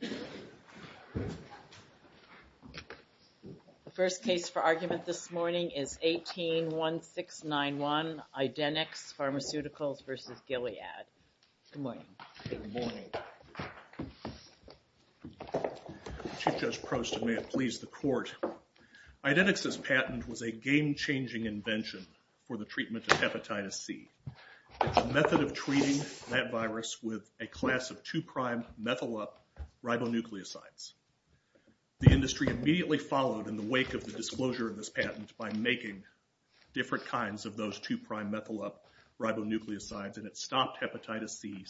The first case for argument this morning is 18-1691 Idenix Pharmaceuticals v. Gilead. Good morning. Chief Judge Prost, and may it please the court. Idenix's patent was a game-changing invention for the treatment of hepatitis C. It's a method of treating that virus with a ribonucleosides. The industry immediately followed in the wake of the disclosure of this patent by making different kinds of those two-prime methyl up ribonucleosides and it stopped hepatitis C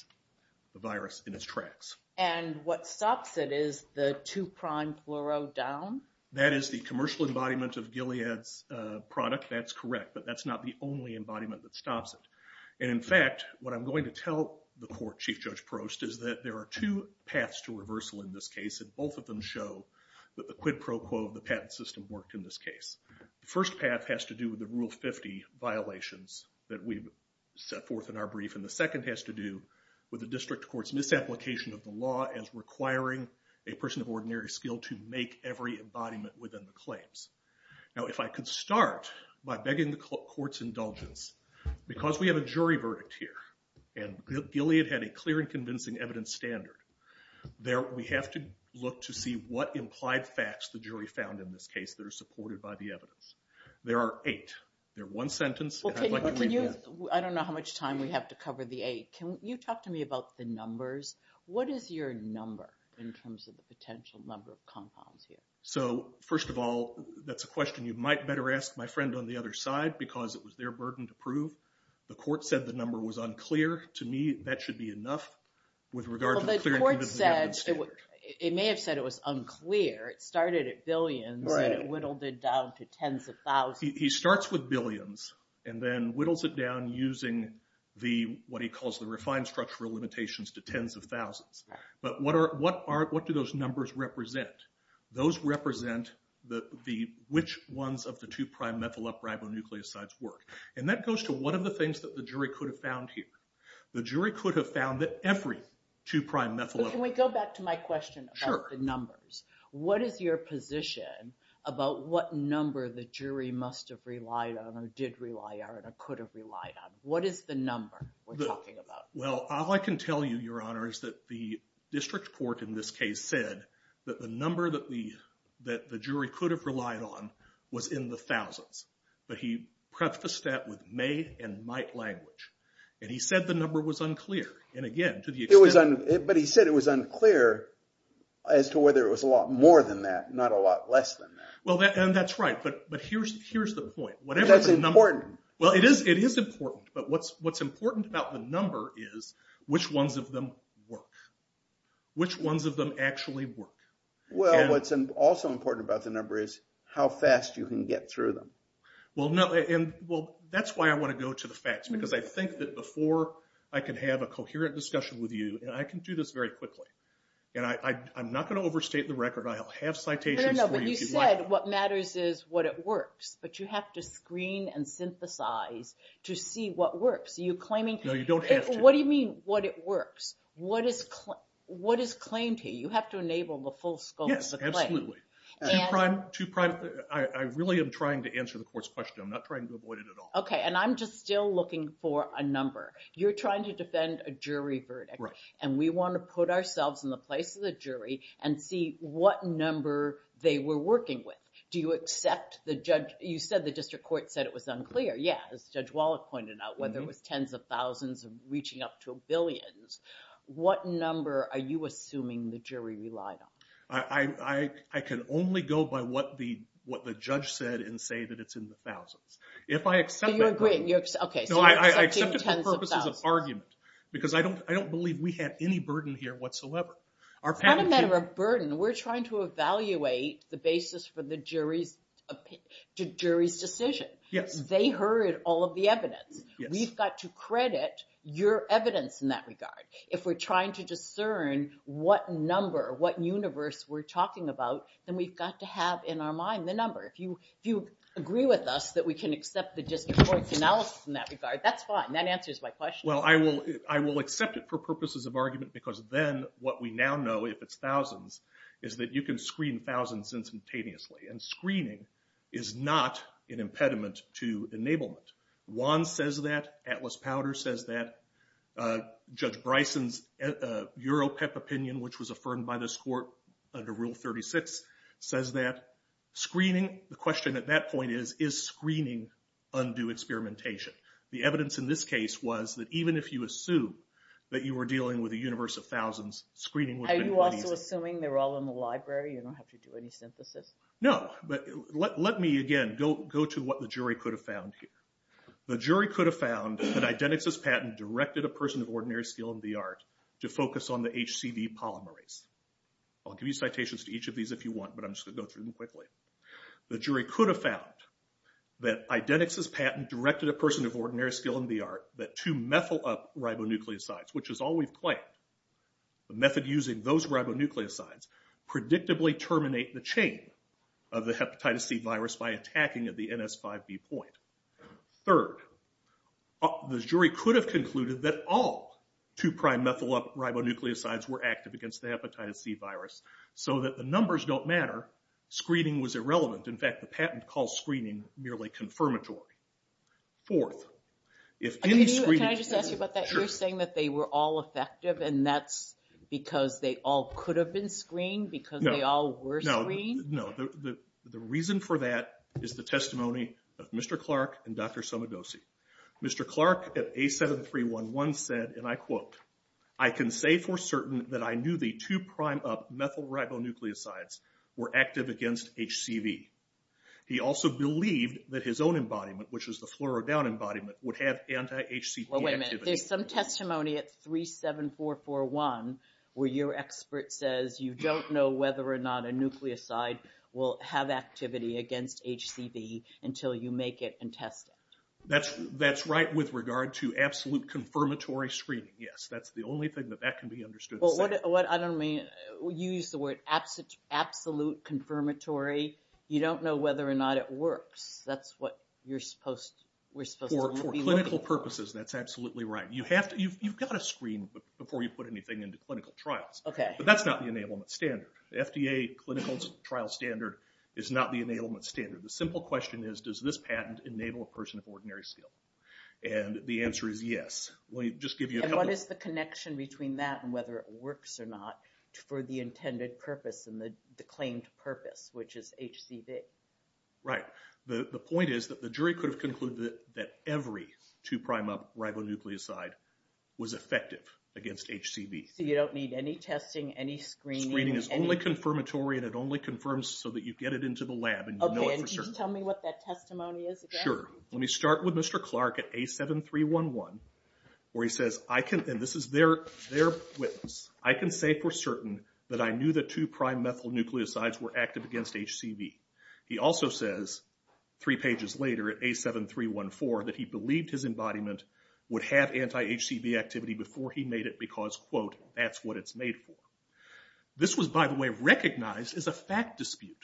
the virus in its tracks. And what stops it is the two-prime fluoro down? That is the commercial embodiment of Gilead's product, that's correct, but that's not the only embodiment that stops it. And in fact, what I'm going to tell the court, Chief Judge Prost, is that there are two paths to reversal in this case and both of them show that the quid pro quo of the patent system worked in this case. The first path has to do with the Rule 50 violations that we've set forth in our brief and the second has to do with the district court's misapplication of the law as requiring a person of ordinary skill to make every embodiment within the claims. Now if I could start by begging the court's indulgence, because we have a jury verdict here and Gilead had a clear and convincing evidence standard, there we have to look to see what implied facts the jury found in this case that are supported by the evidence. There are eight. They're one sentence. I don't know how much time we have to cover the eight. Can you talk to me about the numbers? What is your number in terms of the potential number of compounds here? So first of all, that's a question you might better ask my friend on the other side because it was their burden to prove. The court said the number was enough with regard to the clear and convincing evidence standard. It may have said it was unclear. It started at billions and it whittled it down to tens of thousands. He starts with billions and then whittles it down using the what he calls the refined structural limitations to tens of thousands. But what do those numbers represent? Those represent which ones of the two prime methyl upribonucleosides work. And that goes to one of the things that the jury could have found here. The jury could have found that every two prime methyl. Can we go back to my question about the numbers? What is your position about what number the jury must have relied on or did rely on or could have relied on? What is the number we're talking about? Well all I can tell you, your honor, is that the district court in this case said that the number that the jury could have relied on was in the thousands. But he said the number was unclear. But he said it was unclear as to whether it was a lot more than that, not a lot less than that. That's right. But here's the point. That's important. Well it is important. But what's important about the number is which ones of them work. Which ones of them actually work? Well what's also important about the number is how fast you can get through them. Well that's why I want to go to the facts. Because I think that before I can have a coherent discussion with you, and I can do this very quickly, and I'm not going to overstate the record. I'll have citations for you. But you said what matters is what it works. But you have to screen and synthesize to see what works. Are you claiming? No you don't have to. What do you mean what it works? What is claimed here? You have to enable the full scope of the claim. Yes absolutely. I really am trying to answer the court's question. I'm not trying to avoid it at all. Okay and I'm just still looking for a number. You're trying to defend a jury verdict. Right. And we want to put ourselves in the place of the jury and see what number they were working with. Do you accept the judge, you said the district court said it was unclear. Yeah as Judge Wallach pointed out whether it was tens of thousands of reaching up to I can only go by what the what the judge said and say that it's in the thousands. If I accept that. Okay so you're accepting tens of thousands. I accept it for purposes of argument because I don't believe we have any burden here whatsoever. It's not a matter of burden. We're trying to evaluate the basis for the jury's decision. Yes. They heard all of the evidence. We've got to credit your evidence in that regard. If we're trying to discern what number, what universe we're talking about, then we've got to have in our mind the number. If you agree with us that we can accept the district court's analysis in that regard, that's fine. That answers my question. Well I will accept it for purposes of argument because then what we now know if it's thousands is that you can screen thousands instantaneously. And screening is not an impediment to enablement. Juan says that. Atlas Powder says that. Judge Bryson's EuroPEP opinion which was affirmed by this court under Rule 36 says that screening, the question at that point is, is screening undue experimentation? The evidence in this case was that even if you assume that you were dealing with a universe of thousands, screening would have been easy. Are you also assuming they're all in the library? You don't have to do any synthesis? No but let me again go to what the jury could have found here. The jury could have found that Identix's patent directed a person of ordinary skill and the art to focus on the HCV polymerase. I'll give you citations to each of these if you want but I'm just going to go through them quickly. The jury could have found that Identix's patent directed a person of ordinary skill and the art that to methyl up ribonucleosides, which is all we've claimed, the method using those ribonucleosides predictably terminate the chain of the hepatitis C virus by attacking at the NS5B point. Third, the jury could have concluded that all two prime methyl ribonucleosides were active against the hepatitis C virus so that the numbers don't matter. Screening was irrelevant. In fact, the patent calls screening merely confirmatory. Fourth, if any screening... Can I just ask you about that? You're saying that they were all effective and that's because they all could have been screened? Because they all were screened? No. The reason for that is the testimony of Mr. Clark and Dr. Somodosy. Mr. Clark at A7311 said, and I quote, I can say for certain that I knew the two prime up methyl ribonucleosides were active against HCV. He also believed that his own embodiment, which was the fluoro down embodiment, would have anti-HCV activity. Wait a minute. There's some testimony at 37441 where your expert says you don't know whether or not a nucleoside will have activity against HCV until you make it and test it. That's right with regard to absolute confirmatory screening, yes. That's the only thing that that can be understood to say. What I don't mean... You used the word absolute confirmatory. You don't know whether or not it works. That's what we're supposed to be looking at. For clinical purposes, that's absolutely right. You've got to screen before you put anything into clinical trials. But that's not the enablement standard. The FDA clinical trial standard is not the enablement standard. The simple question is, does this patent enable a person of ordinary skill? And the answer is yes. Let me just give you a couple... And what is the connection between that and whether it works or not for the intended purpose and the claimed purpose, which is HCV? Right. The point is that the jury could have concluded that every two prime up ribonucleoside was effective against HCV. So you don't need any testing, any screening... Screening is only confirmatory and it only confirms so that you get it into the lab and you know it for sure. Okay. And can you tell me what that testimony is again? Sure. Let me start with Mr. Clark at A7311 where he says, and this is their witness, I can say for certain that I knew that two prime methyl nucleosides were active against HCV. He also says three pages later at A7314 that he believed his embodiment would have anti-HCV activity before he made it because, quote, that's what it's made for. This was, by the way, recognized as a fact dispute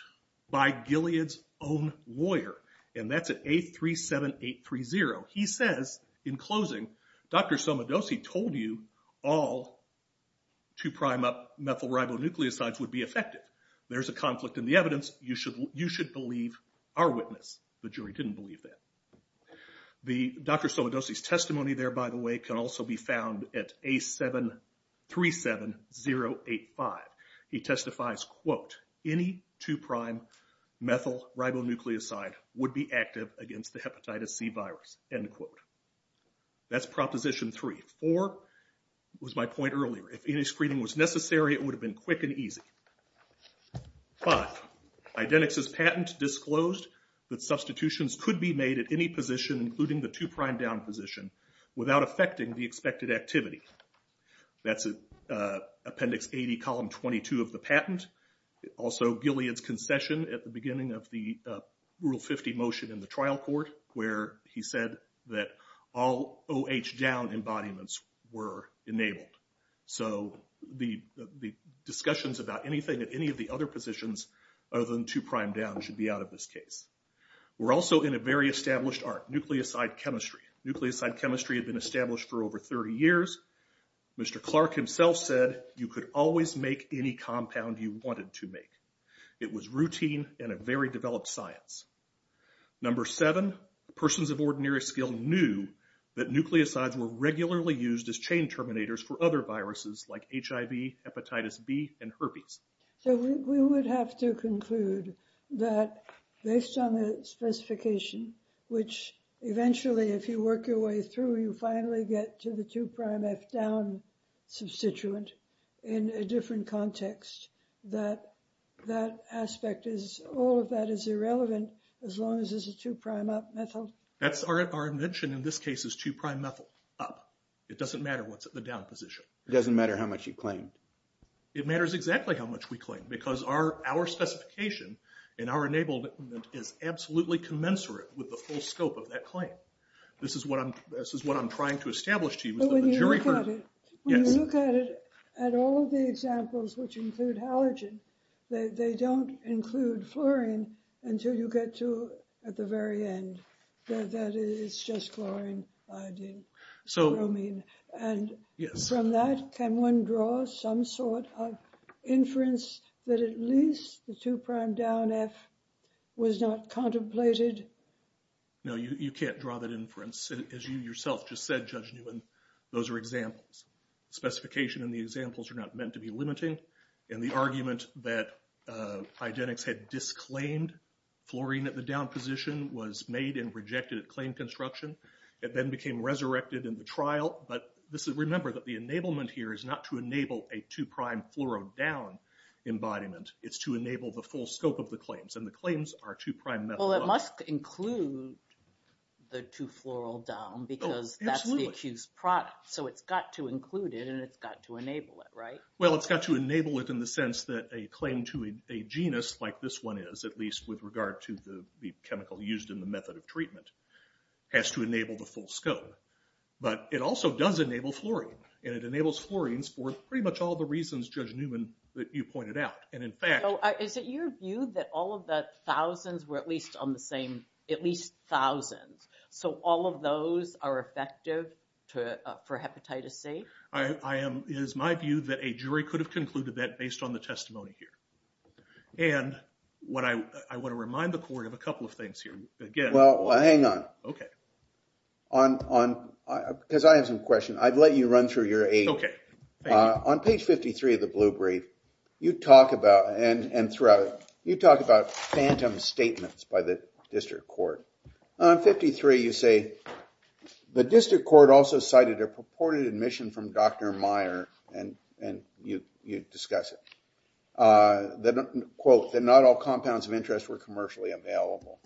by Gilead's own lawyer. And that's at A37830. He says in closing, Dr. Somodosy told you all two prime up methyl ribonucleosides would be effective. There's a conflict in the evidence. You should believe our witness. The jury didn't believe that. The Dr. Somodosy's testimony there, by the way, can also be found at A737085. He testifies, quote, any two prime methyl ribonucleoside would be active against the hepatitis C virus, end quote. That's proposition three. Four was my point earlier. If any screening was necessary, it would have been quick and easy. But Idenix's patent disclosed that substitutions could be made at any position, including the two prime down position, without affecting the expected activity. That's Appendix 80, Column 22 of the patent. Also Gilead's concession at the beginning of the Rule 50 motion in the trial court where he said that all OH down embodiments were enabled. So the discussions about anything at any of the other positions other than two prime down should be out of this case. We're also in a very established art, nucleoside chemistry. Nucleoside chemistry had been established for over 30 years. Mr. Clark himself said you could always make any compound you wanted to make. It was routine and a very developed science. Number seven, persons of ordinary skill knew that nucleosides were regularly used as chain terminators for other hepatitis B and herpes. So we would have to conclude that based on the specification, which eventually, if you work your way through, you finally get to the two prime F down substituent in a different context, that that aspect is, all of that is irrelevant, as long as it's a two prime up methyl. That's our invention in this case is two prime methyl up. It doesn't matter what's at the down position. It doesn't matter how much you claim. It matters exactly how much we claim because our specification and our enabled is absolutely commensurate with the full scope of that claim. This is what I'm trying to establish to you. When you look at it, when you look at it, at all of the examples which include halogen, they don't include fluorine until you get to at the very end. That is just chlorine, bromine. And from that, can one draw some sort of inference that at least the two prime down F was not contemplated? No, you can't draw that inference. As you yourself just said, Judge Newman, those are examples. Specification and the examples are not meant to be limiting. And the argument that was made and rejected at claim construction, it then became resurrected in the trial. But remember that the enablement here is not to enable a two prime fluoro down embodiment. It's to enable the full scope of the claims. And the claims are two prime methyl up. Well, it must include the two fluoro down because that's the accused product. So it's got to include it and it's got to enable it, right? Well, it's got to enable it in the sense that a claim to a genus like this one is, at least with regard to the chemical used in the method of treatment, has to enable the full scope. But it also does enable fluorine. And it enables fluorines for pretty much all the reasons, Judge Newman, that you pointed out. And in fact- So is it your view that all of the thousands were at least on the same, at least thousands? So all of those are effective for hepatitis C? It is my view that a jury could have concluded that based on the testimony here. And I want to remind the court of a couple of things here. Well, hang on. Because I have some questions. I'd let you run through your eight. OK. Thank you. On page 53 of the blue brief, you talk about phantom statements by the district court. On 53, you say, the district court also cited a purported admission from Dr. Meyer, and you discuss it, that, quote, that not all compounds of interest were commercially available.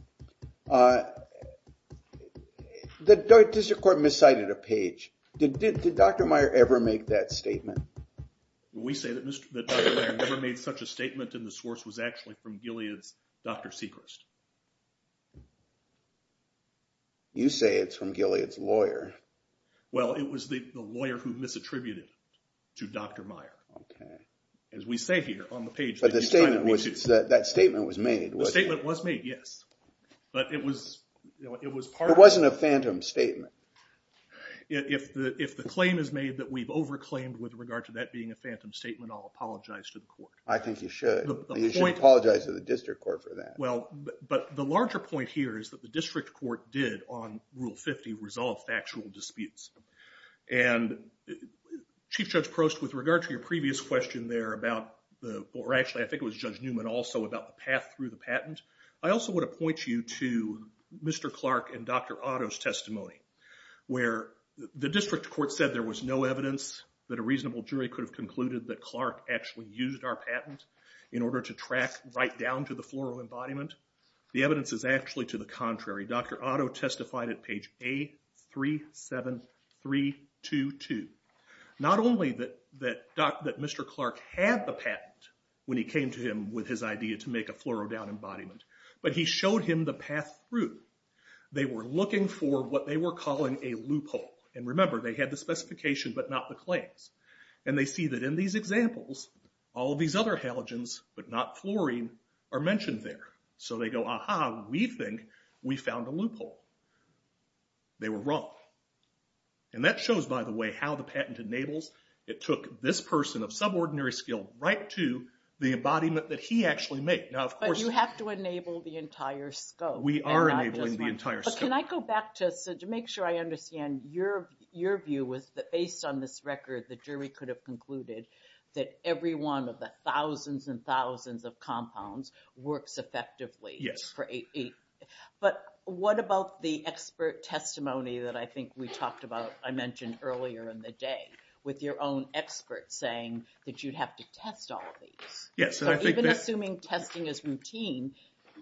The district court miscited a page. Did Dr. Meyer ever make that statement? We say that Dr. Meyer never made such a statement, and the source was actually from Gilead's Dr. Seacrest. Well, it was the lawyer who misattributed it to Dr. Meyer, as we say here on the page. But that statement was made, wasn't it? The statement was made, yes. But it was part of- It wasn't a phantom statement. If the claim is made that we've over-claimed with regard to that being a phantom statement, I'll apologize to the court. I think you should. You should apologize to the district court for that. Well, but the larger point here is that the district court did, on Rule 50, resolve factual disputes. And Chief Judge Prost, with regard to your previous question there about the- or actually, I think it was Judge Newman also, about the path through the patent, I also want to point you to Mr. Clark and Dr. Otto's testimony, where the district court said there was no evidence that a reasonable jury could have concluded that Clark actually used our patent in order to track right down to the floral embodiment. The evidence is actually to the contrary. Dr. Otto testified at page A37322, not only that Mr. Clark had the patent when he came to him with his idea to make a floral down embodiment, but he showed him the path through. They were looking for what they were calling a loophole. And remember, they had the specification, but not the claims. And they see that in these examples, all of these other halogens, but not fluorine, are mentioned there. So they go, aha, we think we found a loophole. They were wrong. And that shows, by the way, how the patent enables. It took this person of subordinary skill right to the embodiment that he actually made. Now, of course- But you have to enable the entire scope. We are enabling the entire scope. But can I go back to- so to make sure I understand, your view was that based on this record, the jury could have concluded that every one of the thousands and thousands of compounds works effectively. Yes. But what about the expert testimony that I think we talked about, I mentioned earlier in the day, with your own expert saying that you'd have to test all of these? Yes. So even assuming testing is routine,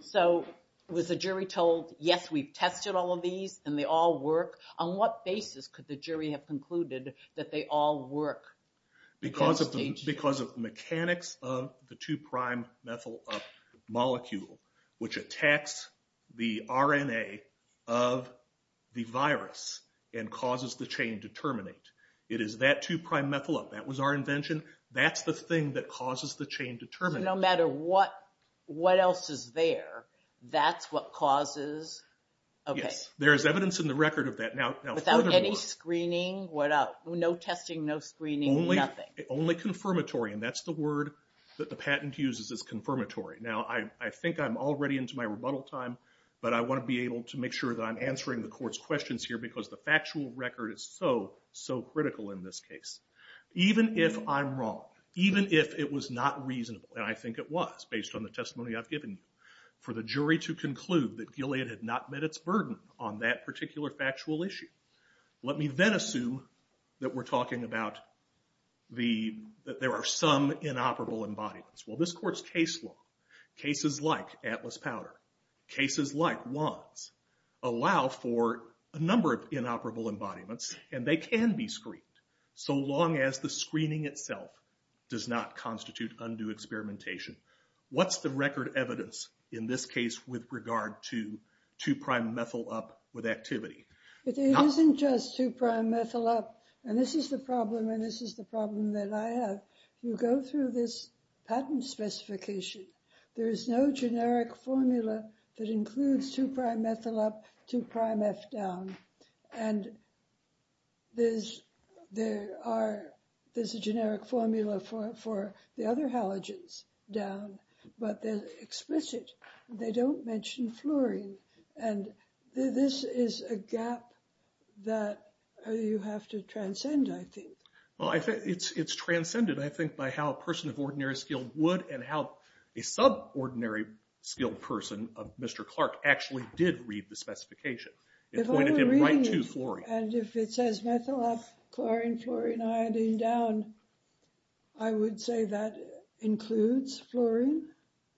so was the jury told, yes, we've tested all of these and they all work? On what basis could the jury have concluded that they all work? Because of the mechanics of the two prime methyl up molecule, which attacks the RNA of the virus and causes the chain to terminate. It is that two prime methyl up. That was our invention. That's the thing that causes the chain to terminate. No matter what else is there, that's what causes- Yes. There is evidence in the record of that. Without any screening, no testing, no screening, nothing. Only confirmatory. And that's the word that the patent uses is confirmatory. Now, I think I'm already into my rebuttal time, but I want to be able to make sure that I'm answering the court's questions here because the factual record is so, so critical in this case. Even if I'm wrong, even if it was not reasonable, and I think it was based on the testimony I've given you, for the jury to conclude that Gilead had not met its burden on that particular factual issue. Let me then assume that we're talking about that there are some inoperable embodiments. Well, this court's case law, cases like Atlas Powder, cases like Wands, allow for a number of inoperable embodiments, and they can be screened so long as the screening itself does not constitute undue experimentation. What's the record evidence in this case with regard to 2'-methyl up with activity? It isn't just 2'-methyl up, and this is the problem, and this is the problem that I have. You go through this patent specification, there is no generic formula that includes 2'-methyl up, 2'-meth down. And there's a generic formula for the other halogens down, but they're explicit. They don't mention fluorine, and this is a gap that you have to transcend, I think. Well, it's transcended, I think, by how a person of ordinary skill would, and how a subordinary skilled person of Mr. Clark actually did read the specification. It pointed him right to fluorine. And if it says methyl up, chlorine, fluorine, iodine down, I would say that includes fluorine.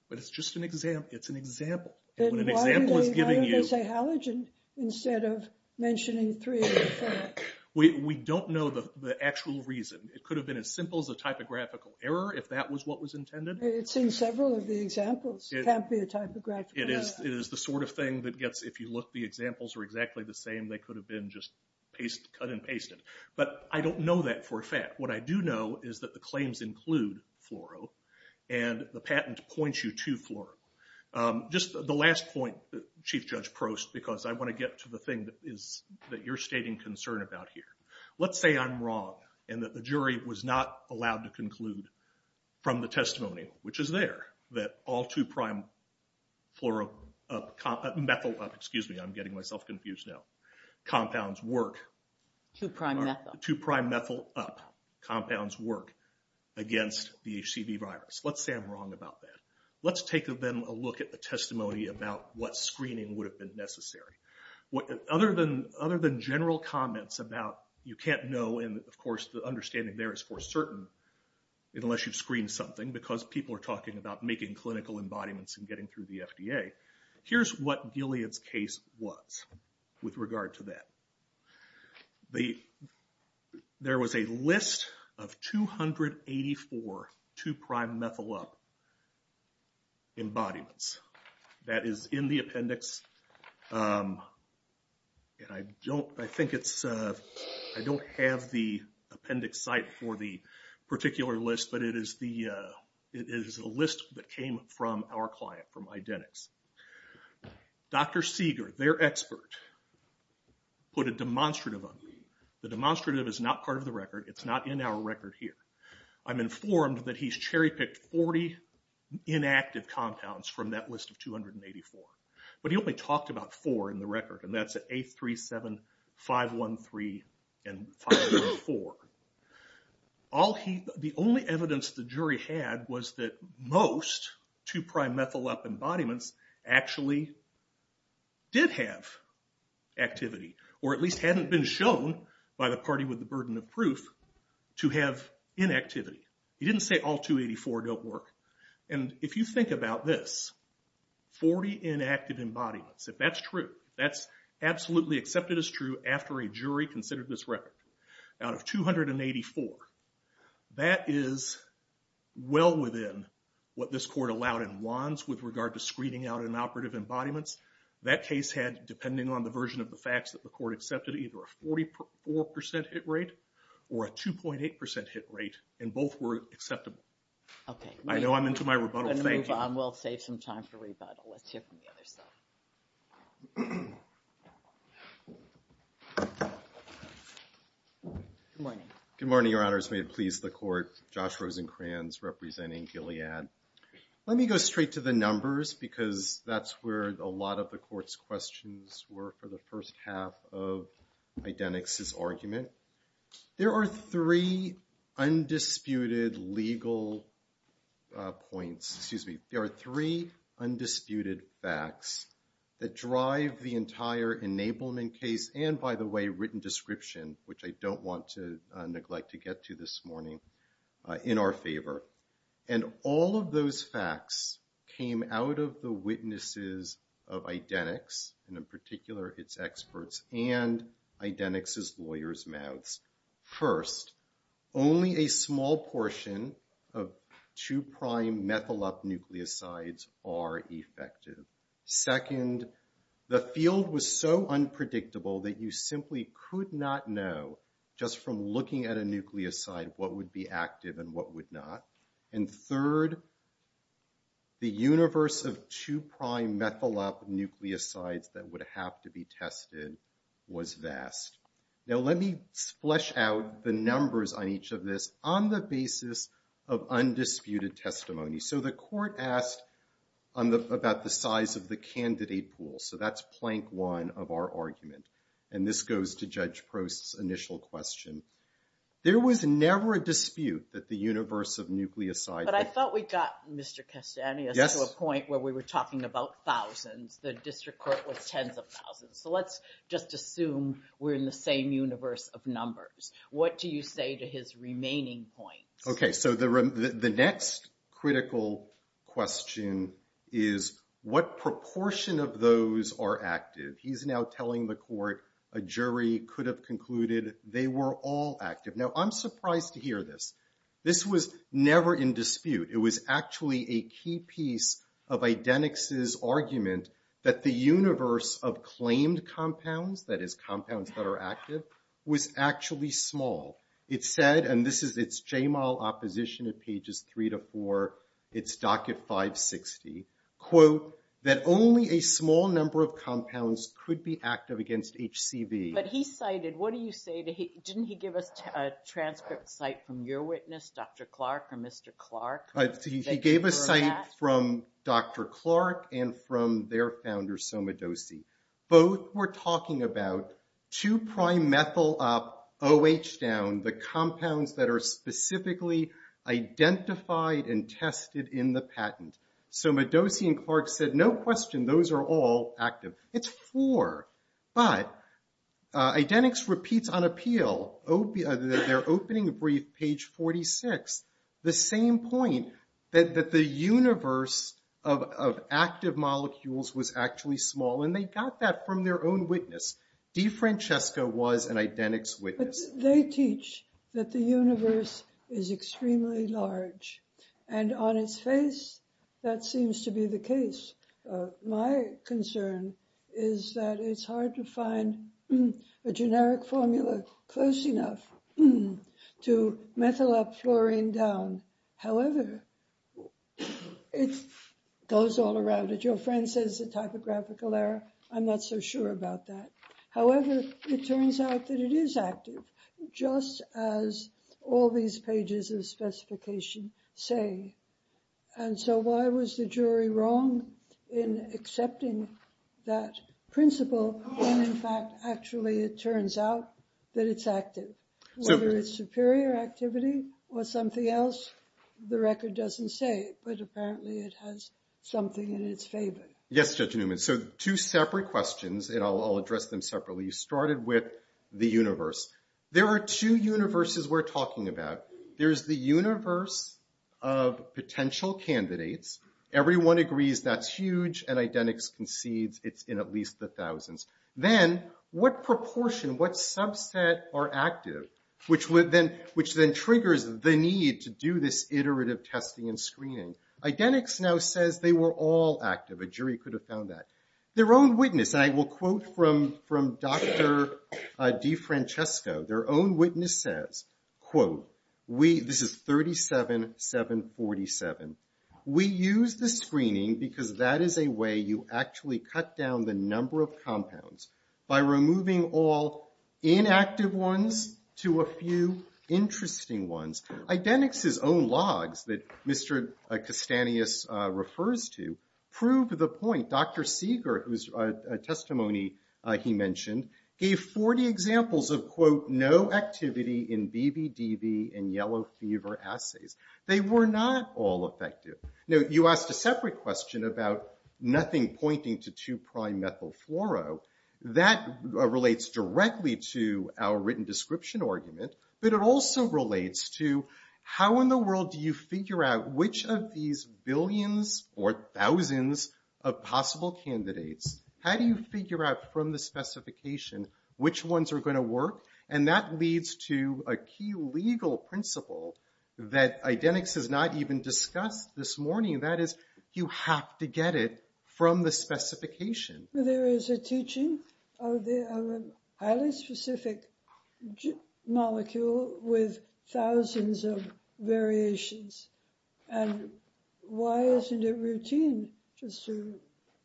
But it's just an example. It's an example. And when an example is giving you- Why do they say halogen instead of mentioning 3'-methyl up? We don't know the actual reason. It could have been as simple as a typographical error if that was what was intended. It's in several of the examples. It can't be a typographical error. It is the sort of thing that gets, if you look, the examples are exactly the same. They could have been just cut and pasted. But I don't know that for a fact. What I do know is that the claims include fluoro, and the patent points you to fluoro. Just the last point, Chief Judge Prost, because I want to get to the thing that you're stating concern about here. Let's say I'm wrong and that the jury was not allowed to conclude from the testimony, which is there, that all 2'-methyl up, excuse me, I'm getting myself confused now, compounds work- 2'-methyl. 2'-methyl up. Compounds work against the HCV virus. Let's say I'm wrong about that. Let's take them a look at the testimony about what screening would have been necessary. Other than general comments about you can't know, and of course, the understanding there is for certain, unless you've screened something, because people are talking about making clinical embodiments and getting through the FDA. Here's what Gilead's case was with regard to that. There was a list of 284 2'-methyl up embodiments. That is in the appendix. And I don't, I think it's, I don't have the appendix site for the particular list, but it is the, it is a list that came from our client, from Identix. Dr. Seeger, their expert, put a demonstrative on it. The demonstrative is not part of the record. It's not in our record here. I'm informed that he's cherry-picked 40 inactive compounds from that list of 284. But he only talked about four in the record, and that's A37513 and 514. The only evidence the jury had was that most 2'-methyl up embodiments actually did have activity, or at least hadn't been shown by the party with the burden of proof to have inactivity. He didn't say all 284 don't work. And if you think about this, 40 inactive embodiments, if that's true, that's absolutely accepted as true after a jury considered this record. Out of 284, that is well within what this court allowed in Wands with regard to screening out inoperative embodiments. That case had, depending on the version of the facts that the court accepted, either a 44% hit rate or a 2.8% hit rate, and both were acceptable. Okay. I know I'm into my rebuttal. We're gonna move on. We'll save some time for rebuttal. Let's hear from the other side. Good morning. Good morning, Your Honors. May it please the court. Josh Rosenkranz representing Gilead. Let me go straight to the numbers because that's where a lot of the court's questions were for the first half of Idenix's argument. There are three undisputed legal points, excuse me. There are three undisputed facts that drive the entire enablement case, and by the way, written description, which I don't want to neglect to get to this morning, in our favor. And all of those facts came out of the witnesses of Idenix, and in particular, its experts and Idenix's lawyer's mouths. First, only a small portion of two prime methyl up nucleosides are effective. Second, the field was so unpredictable that you simply could not know, just from looking at a nucleoside, what would be active and what would not. And third, the universe of two prime methyl up nucleosides that would have to be tested was vast. Now let me flesh out the numbers on each of this on the basis of undisputed testimony. So the court asked about the size of the candidate pool. So that's plank one of our argument. And this goes to Judge Prost's initial question. There was never a dispute that the universe of nucleosides- But I thought we got Mr. Castaneda to a point where we were talking about thousands. The district court was tens of thousands. So let's just assume we're in the same universe of numbers. What do you say to his remaining points? Okay, so the next critical question is what proportion of those are active? He's now telling the court a jury could have concluded they were all active. Now I'm surprised to hear this. This was never in dispute. It was actually a key piece of Idenix's argument that the universe of claimed compounds, that is compounds that are active, was actually small. It said, and this is its JMAL opposition at pages three to four, its docket 560, quote, that only a small number of compounds could be active against HCV. But he cited, what do you say to, didn't he give us a transcript site from your witness, Dr. Clark or Mr. Clark? He gave a site from Dr. Clark and from their founder, Somadosi. Both were talking about two prime methyl up, OH down, the compounds that are specifically identified and tested in the patent. Somadosi and Clark said, no question, those are all active. It's four. But Idenix repeats on appeal, their opening brief, page 46, the same point that the universe of active molecules was actually small. And they got that from their own witness. DeFrancesco was an Idenix witness. They teach that the universe is extremely large and on its face, that seems to be the case. My concern is that it's hard to find a generic formula close enough to methyl up, fluorine down. However, it goes all around it. Your friend says the typographical error. I'm not so sure about that. However, it turns out that it is active, just as all these pages of specification say. And so why was the jury wrong in accepting that principle when in fact, actually, it turns out that it's active? Whether it's superior activity or something else, the record doesn't say, but apparently it has something in its favor. Yes, Judge Newman. So two separate questions, and I'll address them separately. You started with the universe. There are two universes we're talking about. There's the universe of potential candidates. Everyone agrees that's huge, and Idenix concedes it's in at least the thousands. Then what proportion, what subset are active, which then triggers the need to do this iterative testing and screening? Idenix now says they were all active. A jury could have found that. Their own witness, and I will quote from Dr. DeFrancesco, their own witness says, quote, this is 37-747. We use the screening because that is a way you actually cut down the number of compounds by removing all inactive ones to a few interesting ones. Idenix's own logs that Mr. Castanis refers to prove the point. Dr. Seeger, whose testimony he mentioned, gave 40 examples of, quote, no activity in BBDV and yellow fever assays. They were not all effective. Now, you asked a separate question about nothing pointing to two prime methyl fluoro. That relates directly to our written description argument, but it also relates to how in the world do you figure out which of these billions or thousands of possible candidates, how do you figure out from the specification which ones are going to work? And that leads to a key legal principle that Idenix has not even discussed this morning. That is, you have to get it from the specification. Well, there is a teaching of a highly specific molecule with thousands of variations. And why isn't it routine just to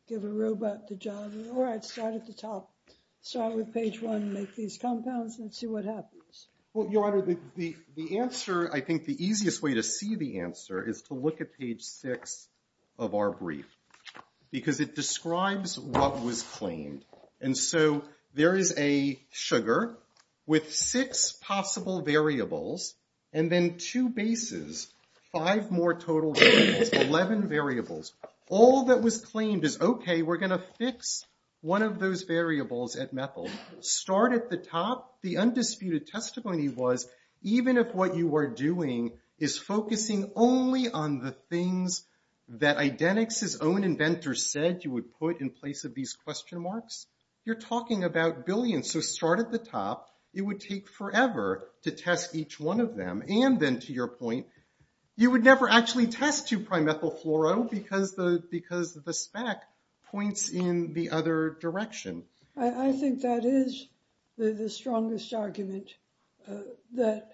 give a robot the job? Or I'd start at the top, start with page one, make these compounds and see what happens. Well, Your Honor, the answer, I think the easiest way to see the answer is to look at page six of our brief, because it describes what was claimed. And so there is a sugar with six possible variables and then two bases, five more total variables, 11 variables. All that was claimed is, OK, we're going to fix one of those variables at methyl. Start at the top. The undisputed testimony was, even if what you are doing is focusing only on the things that Idenix's own inventor said you would put in place of these question marks, you're talking about billions. So start at the top. It would take forever to test each one of them. And then, to your point, you would never actually test two-prime ethyl fluoro, because the spec points in the other direction. I think that is the strongest argument, that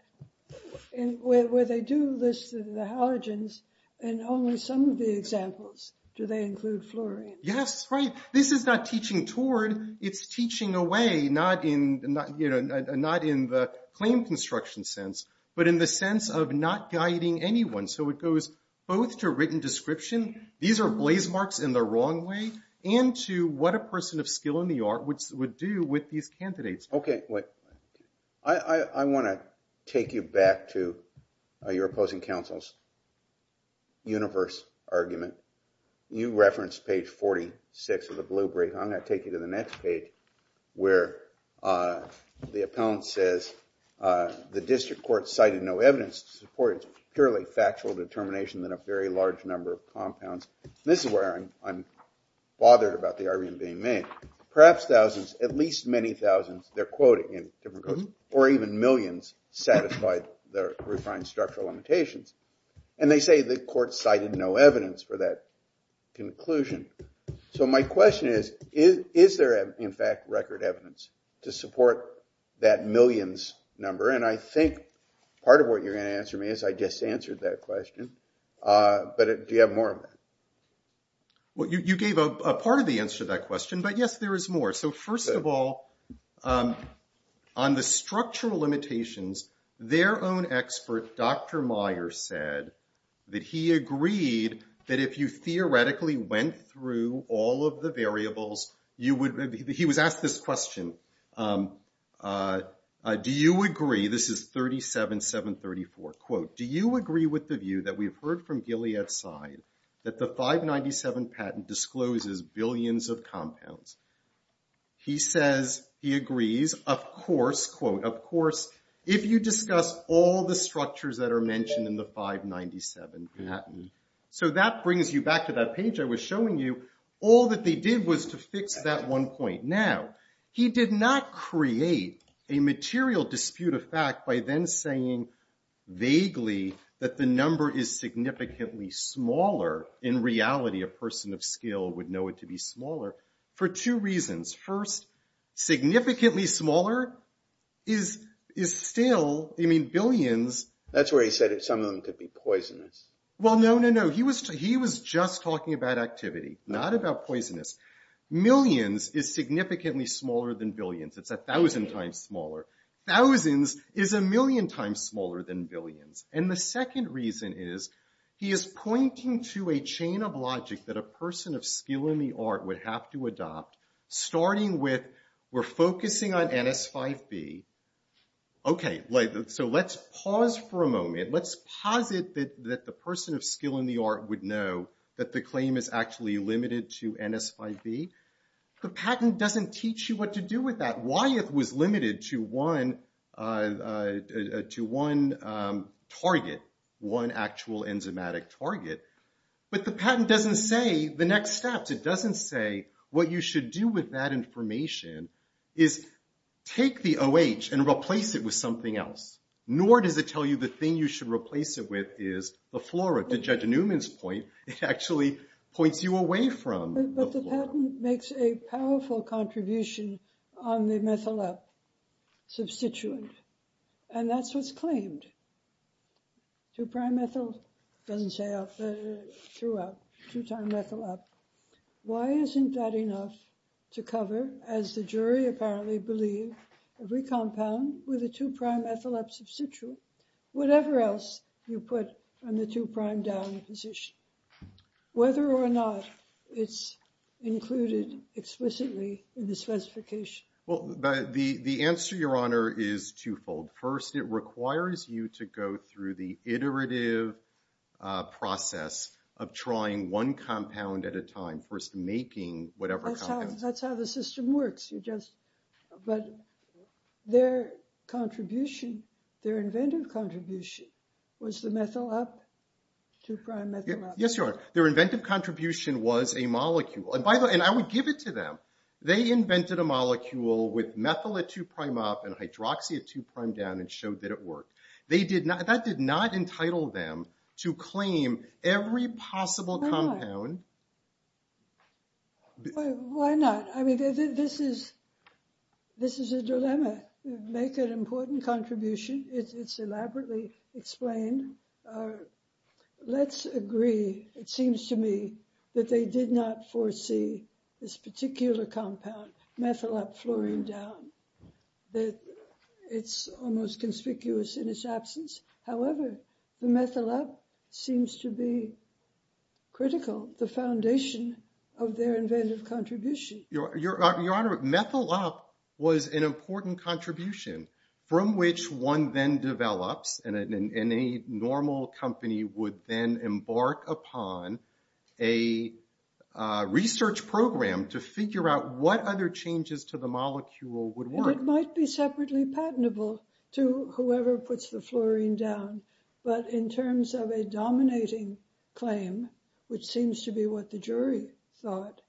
where they do list the halogens, and only some of the examples do they include fluorine. Yes, right. This is not teaching toward. It's teaching away, not in the claim construction sense, but in the sense of not guiding anyone. So it goes both to written description, these are blaze marks in the wrong way, and to what a person of skill in the art would do with these candidates. OK, I want to take you back to your opposing counsel's universe argument. You referenced page 46 of the blue brief. I'm going to take you to the next page, where the appellant says, the district court cited no evidence to support its purely factual determination than a very large number of compounds. This is where I'm bothered about the argument being made. Perhaps thousands, at least many thousands, they're quoting in different quotes, or even millions, satisfied the refined structural limitations. And they say the court cited no evidence for that conclusion. So my question is, is there, in fact, record evidence to support that millions number? And I think part of what you're going to answer me is I just answered that question. But do you have more of that? Well, you gave a part of the answer to that question, but yes, there is more. So first of all, on the structural limitations, their own expert, Dr. Meyer, said that he agreed that if you theoretically went through all of the variables, he was asked this question. Do you agree, this is 37-734, quote, do you agree with the view that we've heard from Gilead side that the 597 patent discloses billions of compounds? He says he agrees, of course, quote, of course, if you discuss all the structures that are mentioned in the 597 patent. So that brings you back to that page I was showing you. All that they did was to fix that one point. Now, he did not create a material dispute of fact by then saying vaguely that the number is significantly smaller. In reality, a person of skill would know it to be smaller for two reasons. First, significantly smaller is still, I mean, billions. That's where he said some of them could be poisonous. Well, no, no, no. He was just talking about activity, not about poisonous. Millions is significantly smaller than billions. It's 1,000 times smaller. Thousands is a million times smaller than billions. And the second reason is he is pointing to a chain of logic that a person of skill in the art would have to adopt, starting with we're focusing on NS5B. OK, so let's pause for a moment. Let's pause it that the person of skill in the art would know that the claim is actually limited to NS5B. The patent doesn't teach you what to do with that. Why it was limited to one target, one actual enzymatic target. But the patent doesn't say the next steps. It doesn't say what you should do with that information is take the OH and replace it with something else. Nor does it tell you the thing you should replace it with is the flora, to Judge Newman's point. It actually points you away from the flora. But the patent makes a powerful contribution on the methyl up substituent. And that's what's claimed. Two prime ethyl doesn't say out there throughout, two time methyl up. Why isn't that enough to cover, as the jury apparently believe, every compound with a two prime ethyl up substituent. Whatever else you put on the two prime down position. Whether or not it's included explicitly in the specification. Well, the answer, Your Honor, is twofold. First, it requires you to go through the iterative process of trying one compound at a time. First, making whatever compound. That's how the system works. But their contribution, their inventive contribution, was the methyl up, two prime methyl up. Yes, Your Honor. Their inventive contribution was a molecule. And by the way, and I would give it to them. They invented a molecule with methyl at two prime up and hydroxy at two prime down and showed that it worked. That did not entitle them to claim every possible compound. Why not? I mean, this is a dilemma. Make an important contribution. It's elaborately explained. Let's agree, it seems to me, that they did not foresee this particular compound, methyl up fluorine down. That it's almost conspicuous in its absence. However, the methyl up seems to be critical. The foundation of their inventive contribution. Your Honor, methyl up was an important contribution from which one then develops. And a normal company would then embark upon a research program to figure out what other changes to the molecule would work. And it might be separately patentable to whoever puts the fluorine down. But in terms of a dominating claim, which seems to be what the jury thought,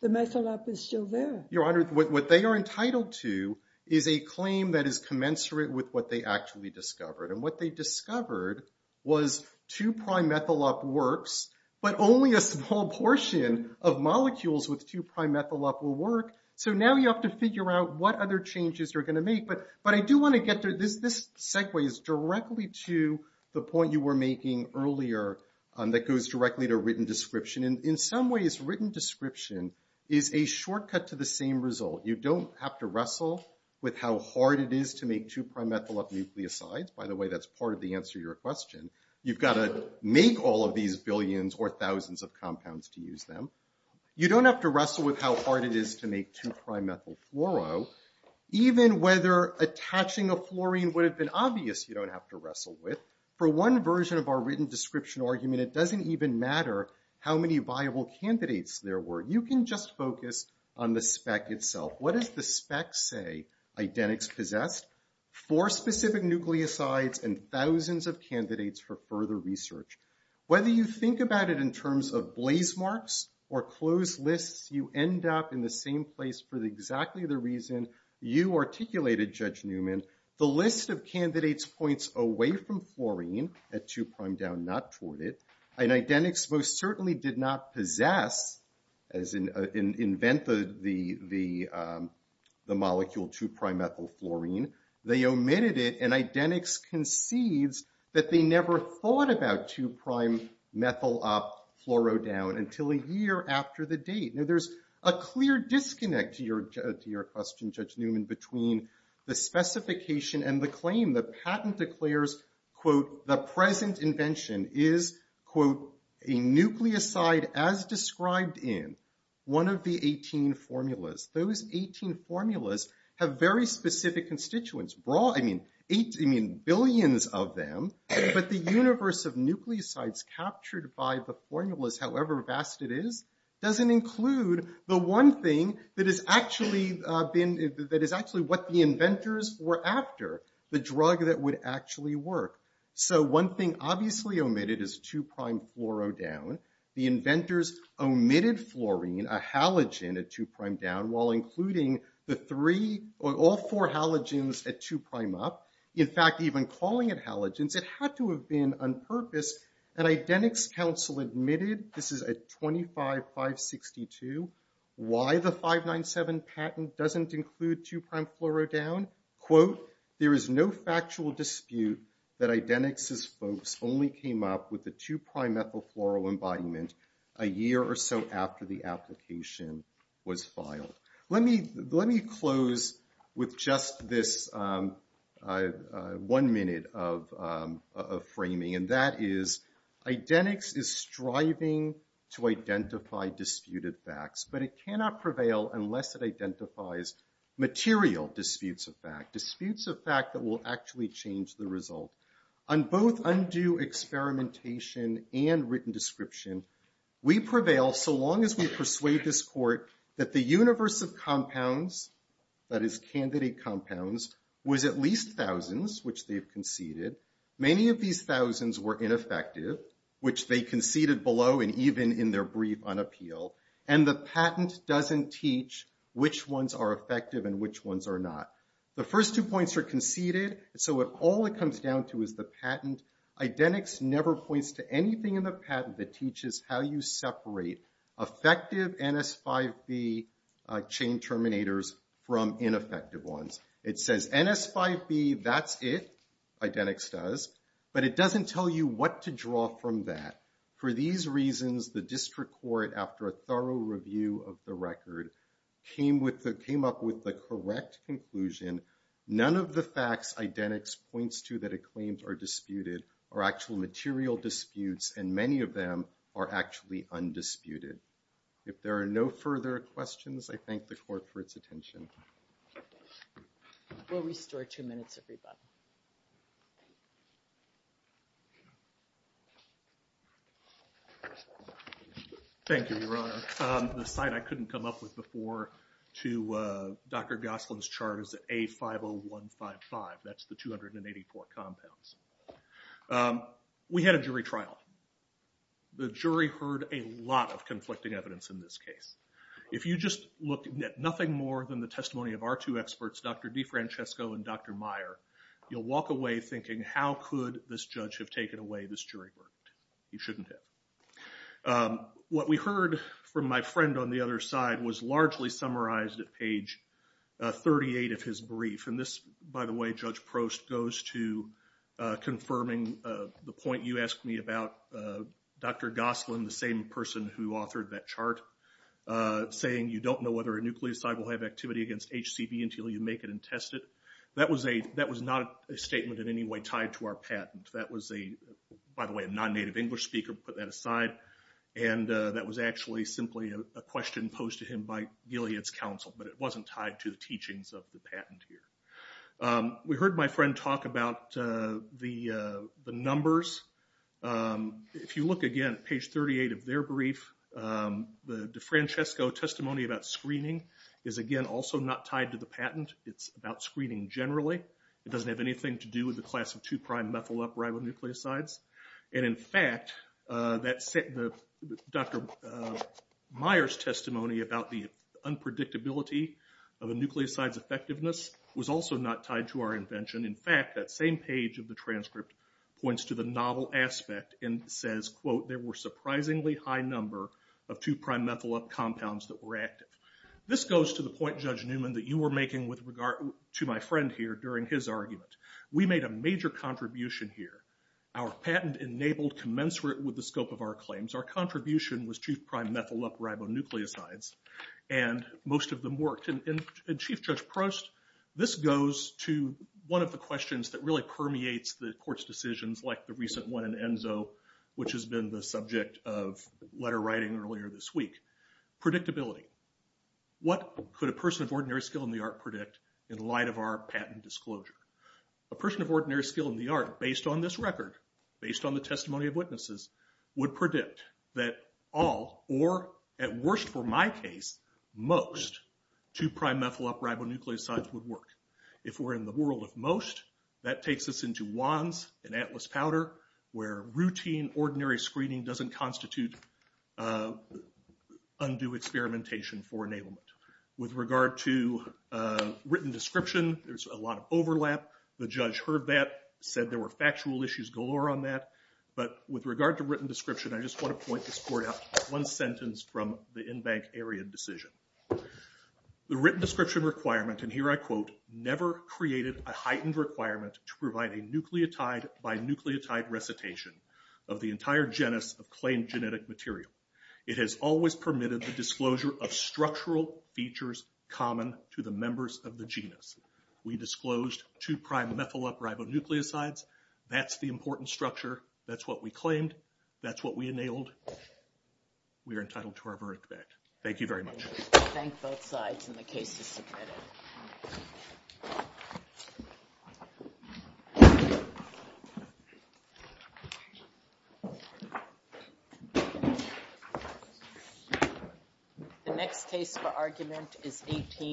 the methyl up is still there. Your Honor, what they are entitled to is a claim that is commensurate with what they actually discovered. And what they discovered was two prime methyl up works, but only a small portion of molecules with two prime methyl up will work. So now you have to figure out what other changes you're going to make. But I do want to get to this. This segue is directly to the point you were making earlier that goes directly to written description. In some ways, written description is a shortcut to the same result. You don't have to wrestle with how hard it is to make two prime methyl up nucleosides. By the way, that's part of the answer to your question. You've got to make all of these billions or thousands of compounds to use them. You don't have to wrestle with how hard it is to make two prime methyl fluoro. Even whether attaching a fluorine would have been obvious, you don't have to wrestle with. For one version of our written description argument, it doesn't even matter how many viable candidates there were. You can just focus on the spec itself. What does the spec say? Identics possessed four specific nucleosides and thousands of candidates for further research. Whether you think about it in terms of blaze marks or closed lists, you end up in the same place for exactly the reason you articulated, Judge Newman. The list of candidates points away from fluorine at two prime down, not toward it. And identics most certainly did not possess, as in, invent the molecule two prime ethyl fluorine. They omitted it. And identics concedes that they never thought about two prime methyl up fluoro down until a year after the date. Now, there's a clear disconnect to your question, Judge Newman, between the specification and the claim. The patent declares, quote, the present invention is, quote, a nucleoside as described in one of the 18 formulas. Those 18 formulas have very specific constituents. I mean, billions of them. But the universe of nucleosides captured by the formulas, however vast it is, doesn't include the one thing that is actually what the inventors were after. The drug that would actually work. So one thing obviously omitted is two prime fluoro down. The inventors omitted fluorine, a halogen at two prime down, while including all four halogens at two prime up. In fact, even calling it halogens, it had to have been unpurposed. And identics counsel admitted, this is at 25562, why the 597 patent doesn't include two prime fluoro down. Quote, there is no factual dispute that identics' folks only came up with the two prime ethyl fluoro embodiment a year or so after the application was filed. Let me close with just this one minute of framing. And that is, identics is striving to identify disputed facts. But it cannot prevail unless it identifies material disputes of fact. Disputes of fact that will actually change the result. On both undue experimentation and written description, we prevail so long as we persuade this court that the universe of compounds, that is candidate compounds, was at least thousands, which they've conceded. Many of these thousands were ineffective, which they conceded below and even in their brief unappeal. And the patent doesn't teach which ones are effective and which ones are not. The first two points are conceded, so all it comes down to is the patent. Identics never points to anything in the patent that teaches how you separate effective NS5B chain terminators from ineffective ones. It says NS5B, that's it, identics does. But it doesn't tell you what to draw from that. For these reasons, the district court, after a thorough review of the record, came up with the correct conclusion. None of the facts identics points to that it claims are disputed are actual material disputes, and many of them are actually undisputed. If there are no further questions, I thank the court for its attention. We'll restore two minutes, everybody. Thank you, Your Honor. The site I couldn't come up with before to Dr. Goslin's chart is A50155, that's the 284 compounds. We had a jury trial. The jury heard a lot of conflicting evidence in this case. If you just looked at nothing more than the test results, the testimony of our two experts, Dr. DeFrancesco and Dr. Meyer, you'll walk away thinking, how could this judge have taken away this jury verdict? He shouldn't have. What we heard from my friend on the other side was largely summarized at page 38 of his brief. And this, by the way, Judge Prost goes to confirming the point you asked me about Dr. Goslin, the same person who authored that chart, saying you don't know whether a nucleoside will have activity against HCV until you make it and test it. That was not a statement in any way tied to our patent. That was a, by the way, a non-native English speaker put that aside. And that was actually simply a question posed to him by Gilead's counsel, but it wasn't tied to the teachings of the patenteer. We heard my friend talk about the numbers. If you look again at page 38 of their brief, the DeFrancesco testimony about screening, is again also not tied to the patent. It's about screening generally. It doesn't have anything to do with the class of 2'-methyl up ribonucleosides. And in fact, Dr. Meyer's testimony about the unpredictability of a nucleoside's effectiveness was also not tied to our invention. In fact, that same page of the transcript points to the novel aspect and says, quote, there were surprisingly high number of 2'-methyl up compounds that were active. This goes to the point, Judge Newman, that you were making with regard to my friend here during his argument. We made a major contribution here. Our patent enabled commensurate with the scope of our claims. Our contribution was 2'-prime methyl up ribonucleosides and most of them worked. And Chief Judge Prost, this goes to one of the questions that really permeates the court's decisions like the recent one in Enzo, which has been the subject of letter writing earlier this week, predictability. What could a person of ordinary skill in the art predict in light of our patent disclosure? A person of ordinary skill in the art, based on this record, based on the testimony of witnesses, would predict that all, or at worst for my case, most 2'-prime methyl up ribonucleosides would work. If we're in the world of most, that takes us into WANS and Atlas powder where routine ordinary screening doesn't constitute undue experimentation for enablement. With regard to written description, there's a lot of overlap. The judge heard that, said there were factual issues galore on that. But with regard to written description, I just want to point this court out one sentence from the in-bank area decision. The written description requirement, and here I quote, never created a heightened requirement to provide a nucleotide-by-nucleotide recitation of the entire genus of claimed genetic material. It has always permitted the disclosure of structural features common to the members of the genus. We disclosed 2'-prime methyl up ribonucleosides. That's the important structure. That's what we claimed. That's what we enabled. We are entitled to our verdict back. Thank you very much. Thank both sides. And the case is submitted. The next case for argument is 18.